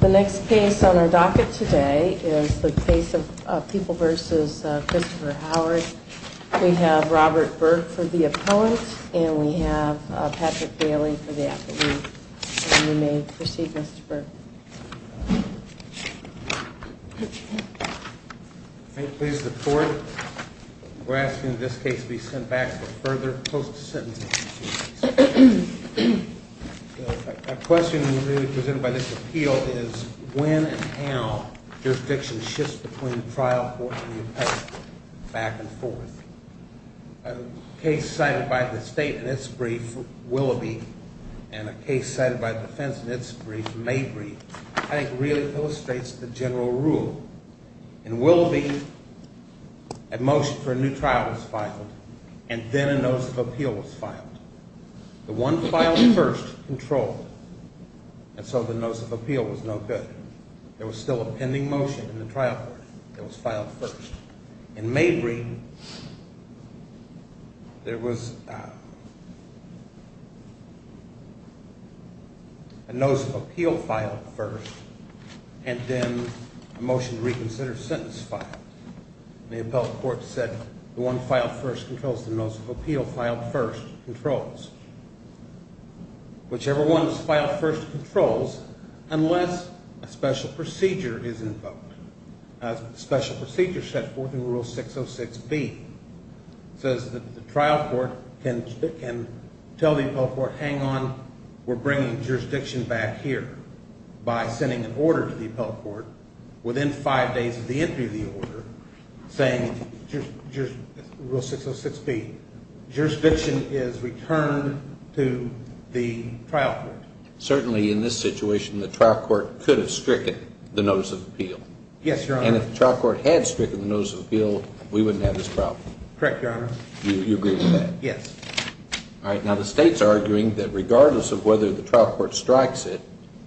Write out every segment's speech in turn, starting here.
The next case on our docket today is the case of People v. Christopher Howard. We have Robert Burke for the opponent, and we have Patrick Daly for the affidavit. You may proceed, Mr. Burke. Robert Thank you, please, the court. We're asking that this case be sent back for further post-sentencing proceedings. A question presented by this appeal is when and how jurisdiction shifts between trial court and the appendix, back and forth. A case cited by the state in its brief, Willoughby, and a case cited by defense in its brief, Mabry, I think really illustrates the general rule. In Willoughby, a motion for a new trial was filed, and then a notice of appeal was filed. The one filed first controlled, and so the notice of appeal was no good. There was still a pending motion in the trial court that was filed first. In Mabry, there was a notice of appeal filed first, and then a motion to reconsider a sentence filed. The appellate court said the one filed first controls the notice of appeal filed first controls. Whichever one was filed first controls unless a special procedure is invoked. A special procedure set forth in Rule 606B says that the trial court can tell the appellate court, hang on, we're bringing jurisdiction back here by sending an order to the appellate court within five days of the entry of the order. Saying, Rule 606B, jurisdiction is returned to the trial court. Certainly in this situation, the trial court could have stricken the notice of appeal. Yes, Your Honor. And if the trial court had stricken the notice of appeal, we wouldn't have this problem. Correct, Your Honor. You agree with that? Yes. All right, now the state's arguing that regardless of whether the trial court strikes it,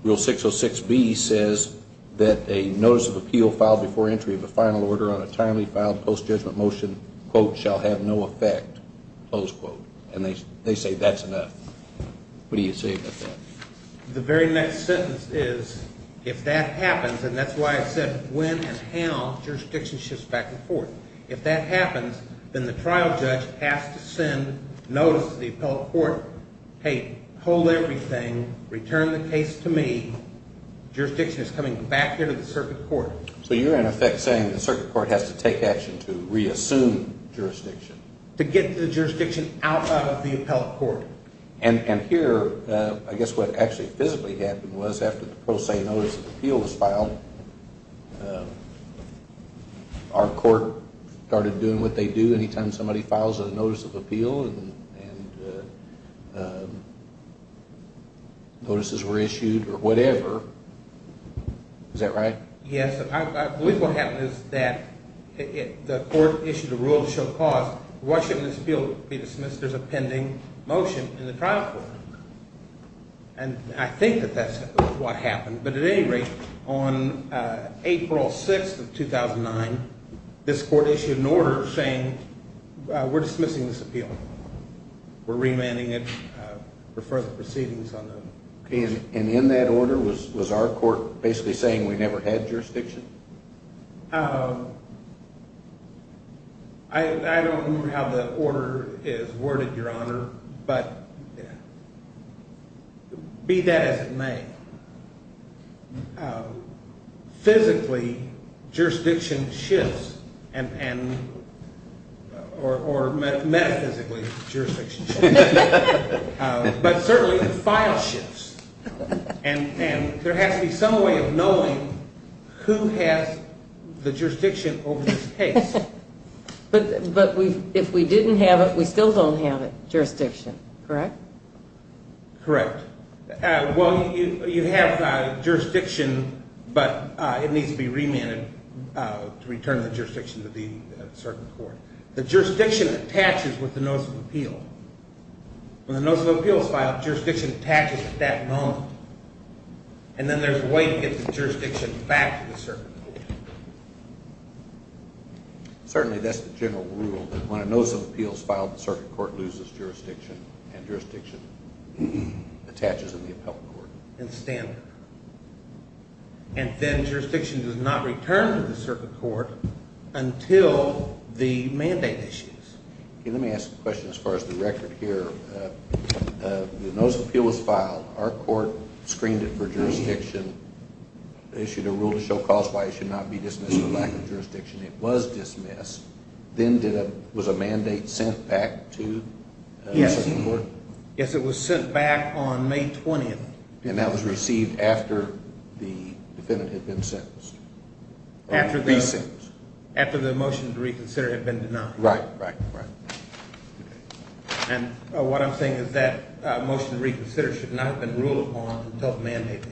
Rule 606B says that a notice of appeal filed before entry of a final order on a timely filed post-judgment motion, quote, shall have no effect, close quote. And they say that's enough. What do you say about that? The very next sentence is, if that happens, and that's why I said when and how jurisdiction shifts back and forth, if that happens, then the trial judge has to send notice to the appellate court, hey, hold everything, return the case to me, jurisdiction is coming back here to the circuit court. So you're, in effect, saying the circuit court has to take action to reassume jurisdiction. To get the jurisdiction out of the appellate court. And here, I guess what actually physically happened was after the pro se notice of appeal was filed, our court started doing what they do any time somebody files a notice of appeal and notices were issued or whatever. Is that right? Yes, I believe what happened is that the court issued a rule to show cause. Why shouldn't this appeal be dismissed? There's a pending motion in the trial court. And I think that that's what happened. But at any rate, on April 6th of 2009, this court issued an order saying we're dismissing this appeal. We're remanding it for further proceedings. And in that order, was our court basically saying we never had jurisdiction? I don't remember how the order is worded, Your Honor, but be that as it may, physically, jurisdiction shifts, or metaphysically, jurisdiction shifts. But certainly, the file shifts. And there has to be some way of knowing who has the jurisdiction over this case. But if we didn't have it, we still don't have jurisdiction, correct? Correct. Well, you have jurisdiction, but it needs to be remanded to return the jurisdiction to the circuit court. The jurisdiction attaches with the notice of appeal. When the notice of appeal is filed, jurisdiction attaches at that moment. And then there's a way to get the jurisdiction back to the circuit court. Certainly, that's the general rule, that when a notice of appeal is filed, the circuit court loses jurisdiction, and jurisdiction attaches in the appellate court. And then jurisdiction does not return to the circuit court until the mandate issues. Let me ask a question as far as the record here. The notice of appeal was filed, our court screened it for jurisdiction, issued a rule to show cause why it should not be dismissed for lack of jurisdiction. It was dismissed. Then was a mandate sent back to the circuit court? Yes, it was sent back on May 20th. And that was received after the defendant had been sentenced? After the motion to reconsider had been denied. Right, right, right. And what I'm saying is that motion to reconsider should not have been ruled upon until the mandate issue.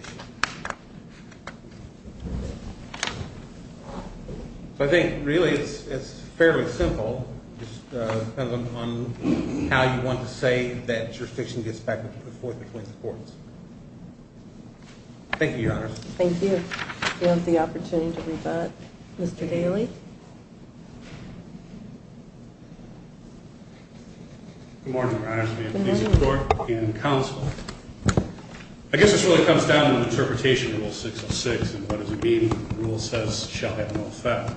I think, really, it's fairly simple. It just depends on how you want to say that jurisdiction gets back and forth between the courts. Thank you, Your Honor. Thank you. We have the opportunity to rebut Mr. Daley. Good morning, Your Honor. Good morning. I guess this really comes down to an interpretation of Rule 606 and what does it mean when the rule says, shall have no effect.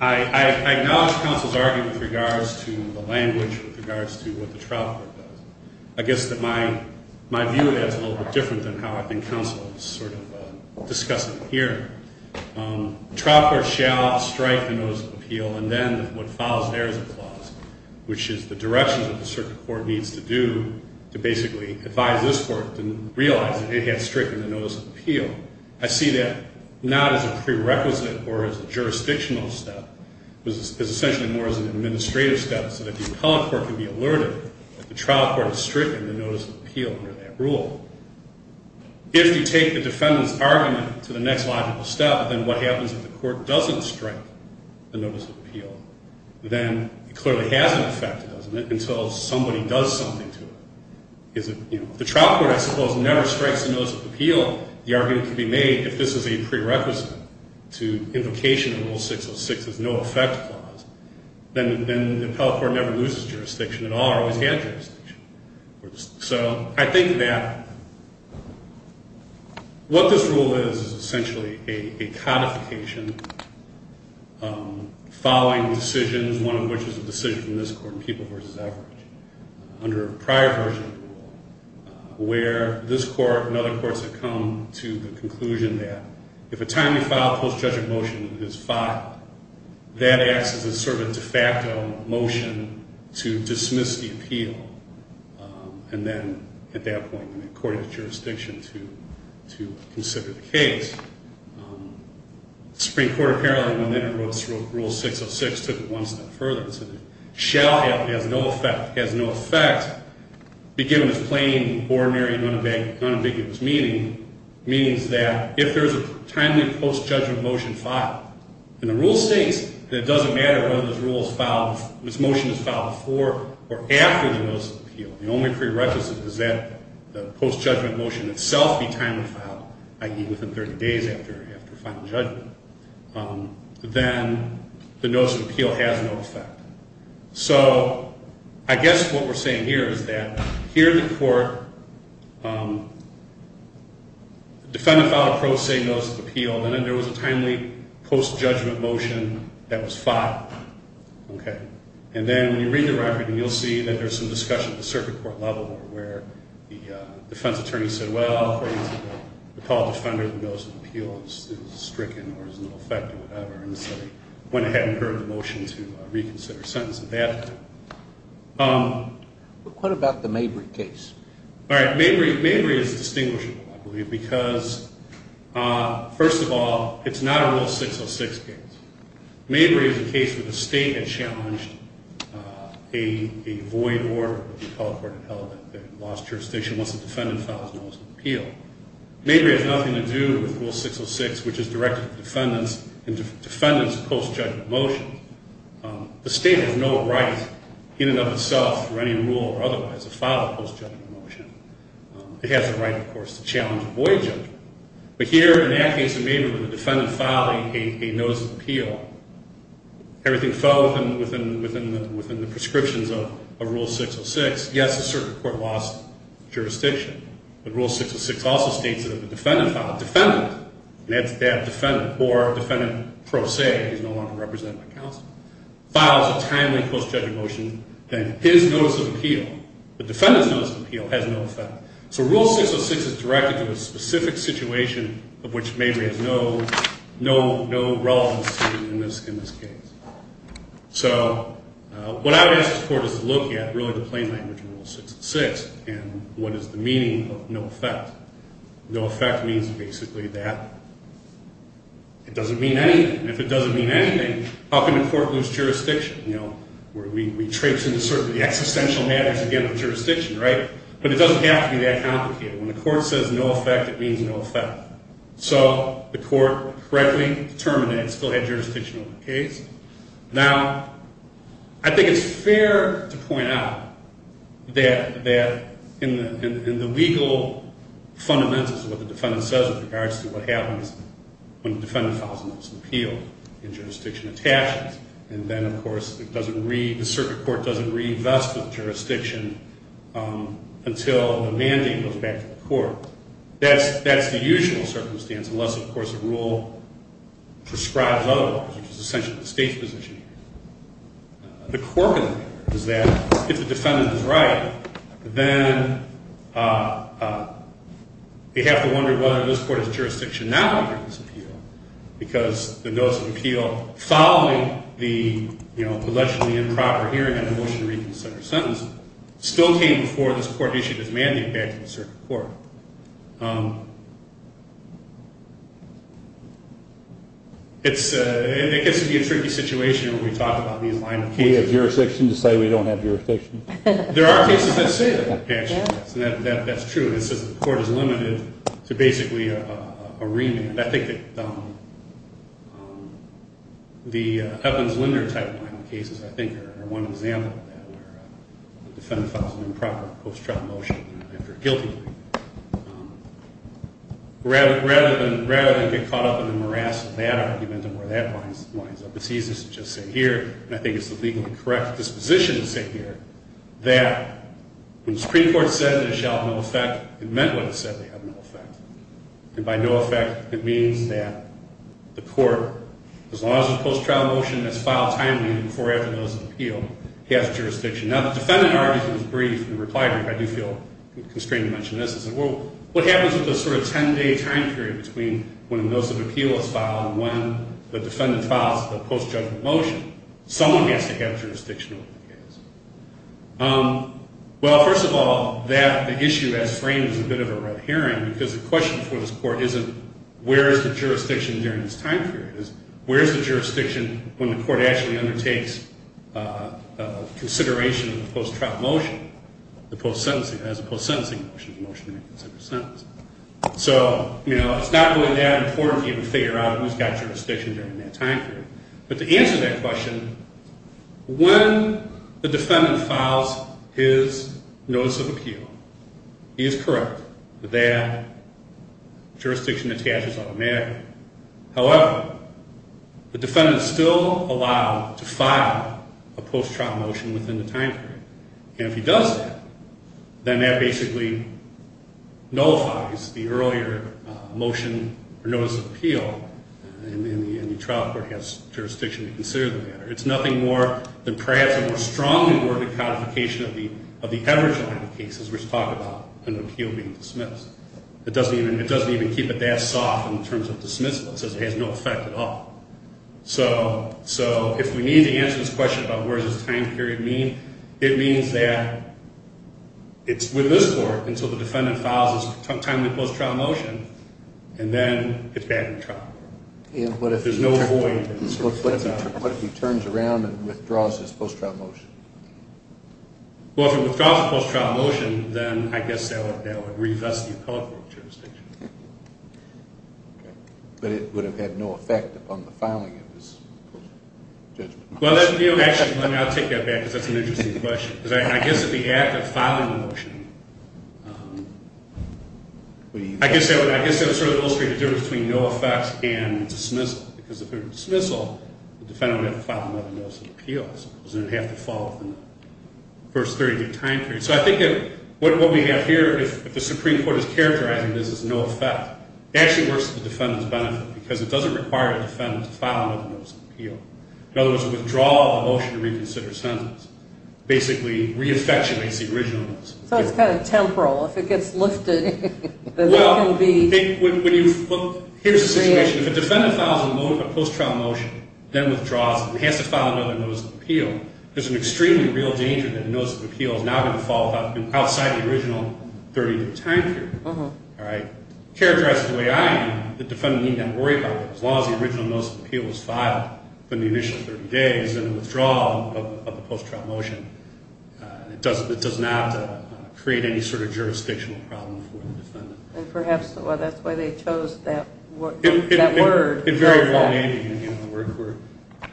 I acknowledge counsel's argument with regards to the language, with regards to what the trial court does. I guess that my view of that is a little bit different than how I think counsel is sort of discussing it here. The trial court shall strike the notice of appeal and then what follows there is a clause, which is the direction that the circuit court needs to do to basically advise this court to realize that it has stricken the notice of appeal. I see that not as a prerequisite or as a jurisdictional step. It's essentially more as an administrative step so that the appellate court can be alerted that the trial court has stricken the notice of appeal under that rule. If you take the defendant's argument to the next logical step, then what happens if the court doesn't strike the notice of appeal? Then it clearly hasn't affected us until somebody does something to it. If the trial court, I suppose, never strikes the notice of appeal, the argument can be made if this is a prerequisite to invocation of Rule 606, there's no effect clause, then the appellate court never loses jurisdiction at all or always had jurisdiction. So I think that what this rule is is essentially a codification following decisions, one of which is a decision from this court in People v. Average under a prior version of the rule, where this court and other courts have come to the conclusion that if a timely filed post-judgment motion is filed, that acts as a sort of de facto motion to dismiss the appeal. And then at that point, the court has jurisdiction to consider the case. The Supreme Court apparently, when it wrote Rule 606, took it one step further and said, shall have no effect, has no effect, be given its plain, ordinary, and unambiguous meaning, means that if there's a timely post-judgment motion filed, and the rule states that it doesn't matter whether this motion is filed before or after the notice of appeal, the only prerequisite is that the post-judgment motion itself be timely filed, i.e., within 30 days after final judgment, then the notice of appeal has no effect. So I guess what we're saying here is that here in the court, the defendant filed a pro se notice of appeal, and then there was a timely post-judgment motion that was filed. And then when you read the record, you'll see that there's some discussion at the circuit court level where the defense attorney said, well, according to the call defender, the notice of appeal is stricken or has no effect or whatever, and so they went ahead and heard the motion to reconsider a sentence at that point. What about the Mabry case? All right. Mabry is distinguishable, I believe, because, first of all, it's not a Rule 606 case. Mabry is a case where the state had challenged a void order, held in the lost jurisdiction once the defendant files a notice of appeal. Mabry has nothing to do with Rule 606, which is directed to defendants and defendants' post-judgment motions. The state has no right in and of itself for any rule or otherwise to file a post-judgment motion. It has the right, of course, to challenge a void judgment. But here in that case of Mabry where the defendant filed a notice of appeal, everything fell within the prescriptions of Rule 606. Yes, the circuit court lost jurisdiction. But Rule 606 also states that if the defendant filed a defendant, and that defendant or defendant pro se is no longer represented by counsel, files a timely post-judgment motion, then his notice of appeal, the defendant's notice of appeal, has no effect. So Rule 606 is directed to a specific situation of which Mabry has no relevance in this case. So what I would ask the court is to look at really the plain language of Rule 606 and what is the meaning of no effect. No effect means basically that it doesn't mean anything. If it doesn't mean anything, how can the court lose jurisdiction? You know, we traipse into sort of the existential matters, again, of jurisdiction, right? But it doesn't have to be that complicated. When the court says no effect, it means no effect. So the court correctly determined that it still had jurisdiction over the case. Now, I think it's fair to point out that in the legal fundamentals of what the defendant says with regards to what happens when the defendant files a notice of appeal and jurisdiction attaches, and then, of course, the circuit court doesn't reinvest the jurisdiction until the mandate goes back to the court. That's the usual circumstance, unless, of course, the rule prescribes otherwise, which is essentially the state's position. The quirk of it is that if the defendant is right, then they have to wonder whether this court has jurisdiction not under this appeal because the notice of appeal, following the allegedly improper hearing and the motion to reconsider a sentence, still came before this court issued its mandate back to the circuit court. It gets to be a tricky situation when we talk about these lines of courts. Do we have jurisdiction to say we don't have jurisdiction? There are cases that say that. That's true. It says the court is limited to basically a remand. I think that the Evans-Linder type of cases, I think, are one example of that, where the defendant files an improper post-trial motion after a guilty plea. Rather than get caught up in the morass of that argument and where that lines up, it's easiest to just say here, and I think it's the legally correct disposition to say here, that when the Supreme Court said they shall have no effect, it meant what it said, they have no effect. And by no effect, it means that the court, as long as the post-trial motion has filed timely and before or after the notice of appeal, has jurisdiction. Now, the defendant argued it was brief in the reply brief. I do feel constrained to mention this. I said, well, what happens with the sort of 10-day time period between when the notice of appeal is filed and when the defendant files the post-judgment motion? Someone has to have jurisdiction over the case. Well, first of all, that issue, as framed, is a bit of a red herring, because the question for this court isn't where is the jurisdiction during this time period. It's where is the jurisdiction when the court actually undertakes consideration of the post-trial motion, the post-sentencing motion, the motion to reconsider a sentence. So, you know, it's not really that important for you to figure out who's got jurisdiction during that time period. But to answer that question, when the defendant files his notice of appeal, he is correct that jurisdiction attaches automatically. However, the defendant is still allowed to file a post-trial motion within the time period. And if he does that, then that basically nullifies the earlier motion, or notice of appeal, and the trial court has jurisdiction to consider the matter. It's nothing more than perhaps a more strongly worded codification of the average number of cases which talk about an appeal being dismissed. It doesn't even keep it that soft in terms of dismissal. It says it has no effect at all. So if we need to answer this question about where does this time period mean, it means that it's with this court until the defendant files his timely post-trial motion, and then it's back in trial. There's no void. What if he turns around and withdraws his post-trial motion? Well, if he withdraws his post-trial motion, then I guess that would revest the appellate jurisdiction. Okay. But it would have had no effect upon the filing of his post-trial judgment motion. Well, actually, I'll take that back because that's an interesting question. I guess that the act of filing the motion, I guess that would sort of illustrate the difference between no effect and dismissal because if it were dismissal, the defendant would have to file another notice of appeal because it would have to fall within the first 30-day time period. So I think what we have here, if the Supreme Court is characterizing this as no effect, it actually works to the defendant's benefit because it doesn't require the defendant to file another notice of appeal. In other words, a withdrawal of a motion to reconsider a sentence basically reaffectuates the original notice of appeal. So it's kind of temporal. If it gets lifted, then that can be... Well, here's the situation. If a defendant files a post-trial motion, then withdraws it and has to file another notice of appeal, there's an extremely real danger that a notice of appeal is now going to fall outside the original 30-day time period. All right? Characterized the way I am, the defendant doesn't need to worry about it. As long as the original notice of appeal is filed within the initial 30 days, then a withdrawal of the post-trial motion does not create any sort of jurisdictional problem for the defendant. And perhaps that's why they chose that word. It very well may be the word.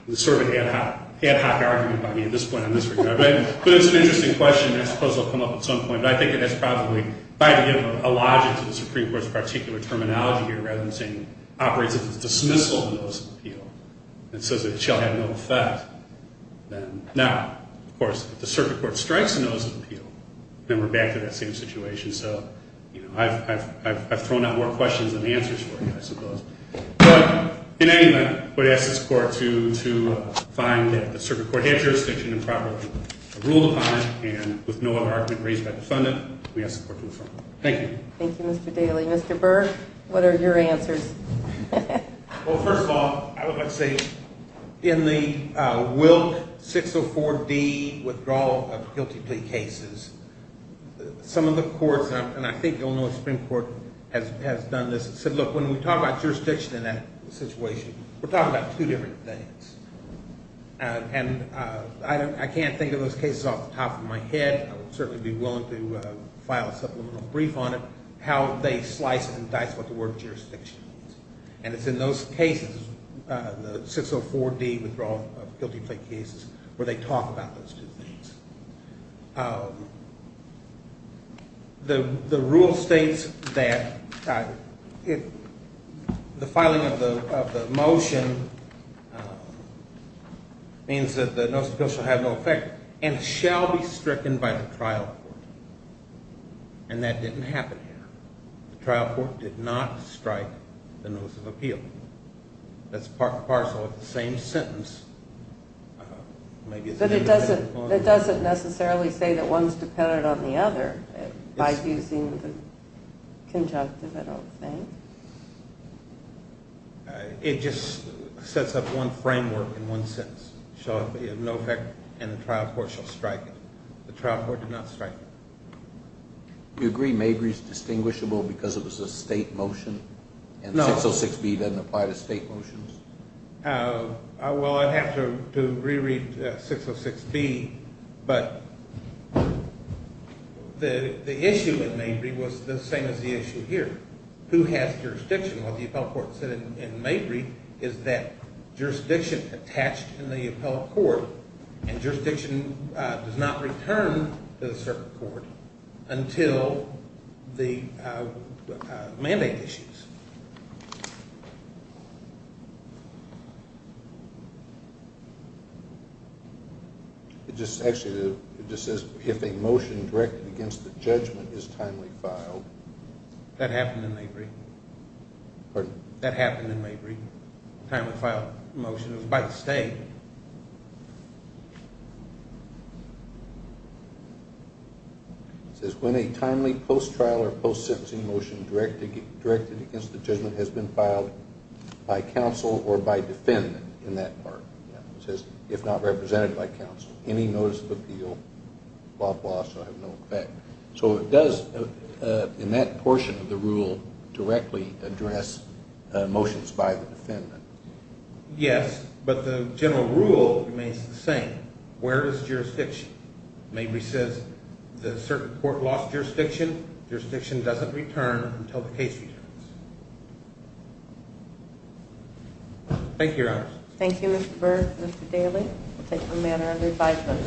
It's sort of an ad hoc argument by me at this point in this regard. But it's an interesting question. I suppose it will come up at some point. I think it has probably... If I had to give a logic to the Supreme Court's particular terminology here that I'm saying operates as a dismissal of notice of appeal, and says that it shall have no effect, then now, of course, if the circuit court strikes a notice of appeal, then we're back to that same situation. So, you know, I've thrown out more questions than answers for you, I suppose. But, in any event, I would ask this Court to find that the circuit court had jurisdiction and properly ruled upon it, and with no other argument raised by the defendant, we ask the Court to affirm it. Thank you. Thank you, Mr. Daly. Mr. Burke, what are your answers? Well, first of all, I would like to say in the Wilk 604D withdrawal of guilty plea cases, some of the courts, and I think you'll know the Supreme Court has done this, said, look, when we talk about jurisdiction in that situation, we're talking about two different things. And I can't think of those cases off the top of my head. I would certainly be willing to file a supplemental brief on it. How they slice and dice what the word jurisdiction is. And it's in those cases, the 604D withdrawal of guilty plea cases, where they talk about those two things. The rule states that the filing of the motion means that the notice of appeal shall have no effect and shall be stricken by the trial court. And that didn't happen here. The trial court did not strike the notice of appeal. That's part and parcel of the same sentence. But it doesn't necessarily say that one's dependent on the other by using the conjunctive, I don't think. It just sets up one framework in one sentence. Shall have no effect and the trial court shall strike it. The trial court did not strike it. Do you agree Mabry's distinguishable because it was a state motion? No. And 606B doesn't apply to state motions? Well, I'd have to reread 606B. But the issue in Mabry was the same as the issue here. Who has jurisdiction? What the appellate court said in Mabry is that jurisdiction attached in the appellate court and jurisdiction does not return to the circuit court until the mandate issues. It just actually says if a motion directed against the judgment is timely filed. That happened in Mabry. Pardon? That happened in Mabry. It was a timely filed motion. It was by the state. It says when a timely post-trial or post-sentencing motion directed against the judgment has been filed by counsel or by defendant in that part. It says if not represented by counsel. Any notice of appeal, blah, blah, shall have no effect. So it does, in that portion of the rule, directly address motions by the defendant. Yes, but the general rule remains the same. Where is jurisdiction? Mabry says the circuit court lost jurisdiction. Jurisdiction doesn't return until the case returns. Thank you, Your Honor. Thank you, Mr. Burr. Mr. Daly, we'll take no matter of advisement.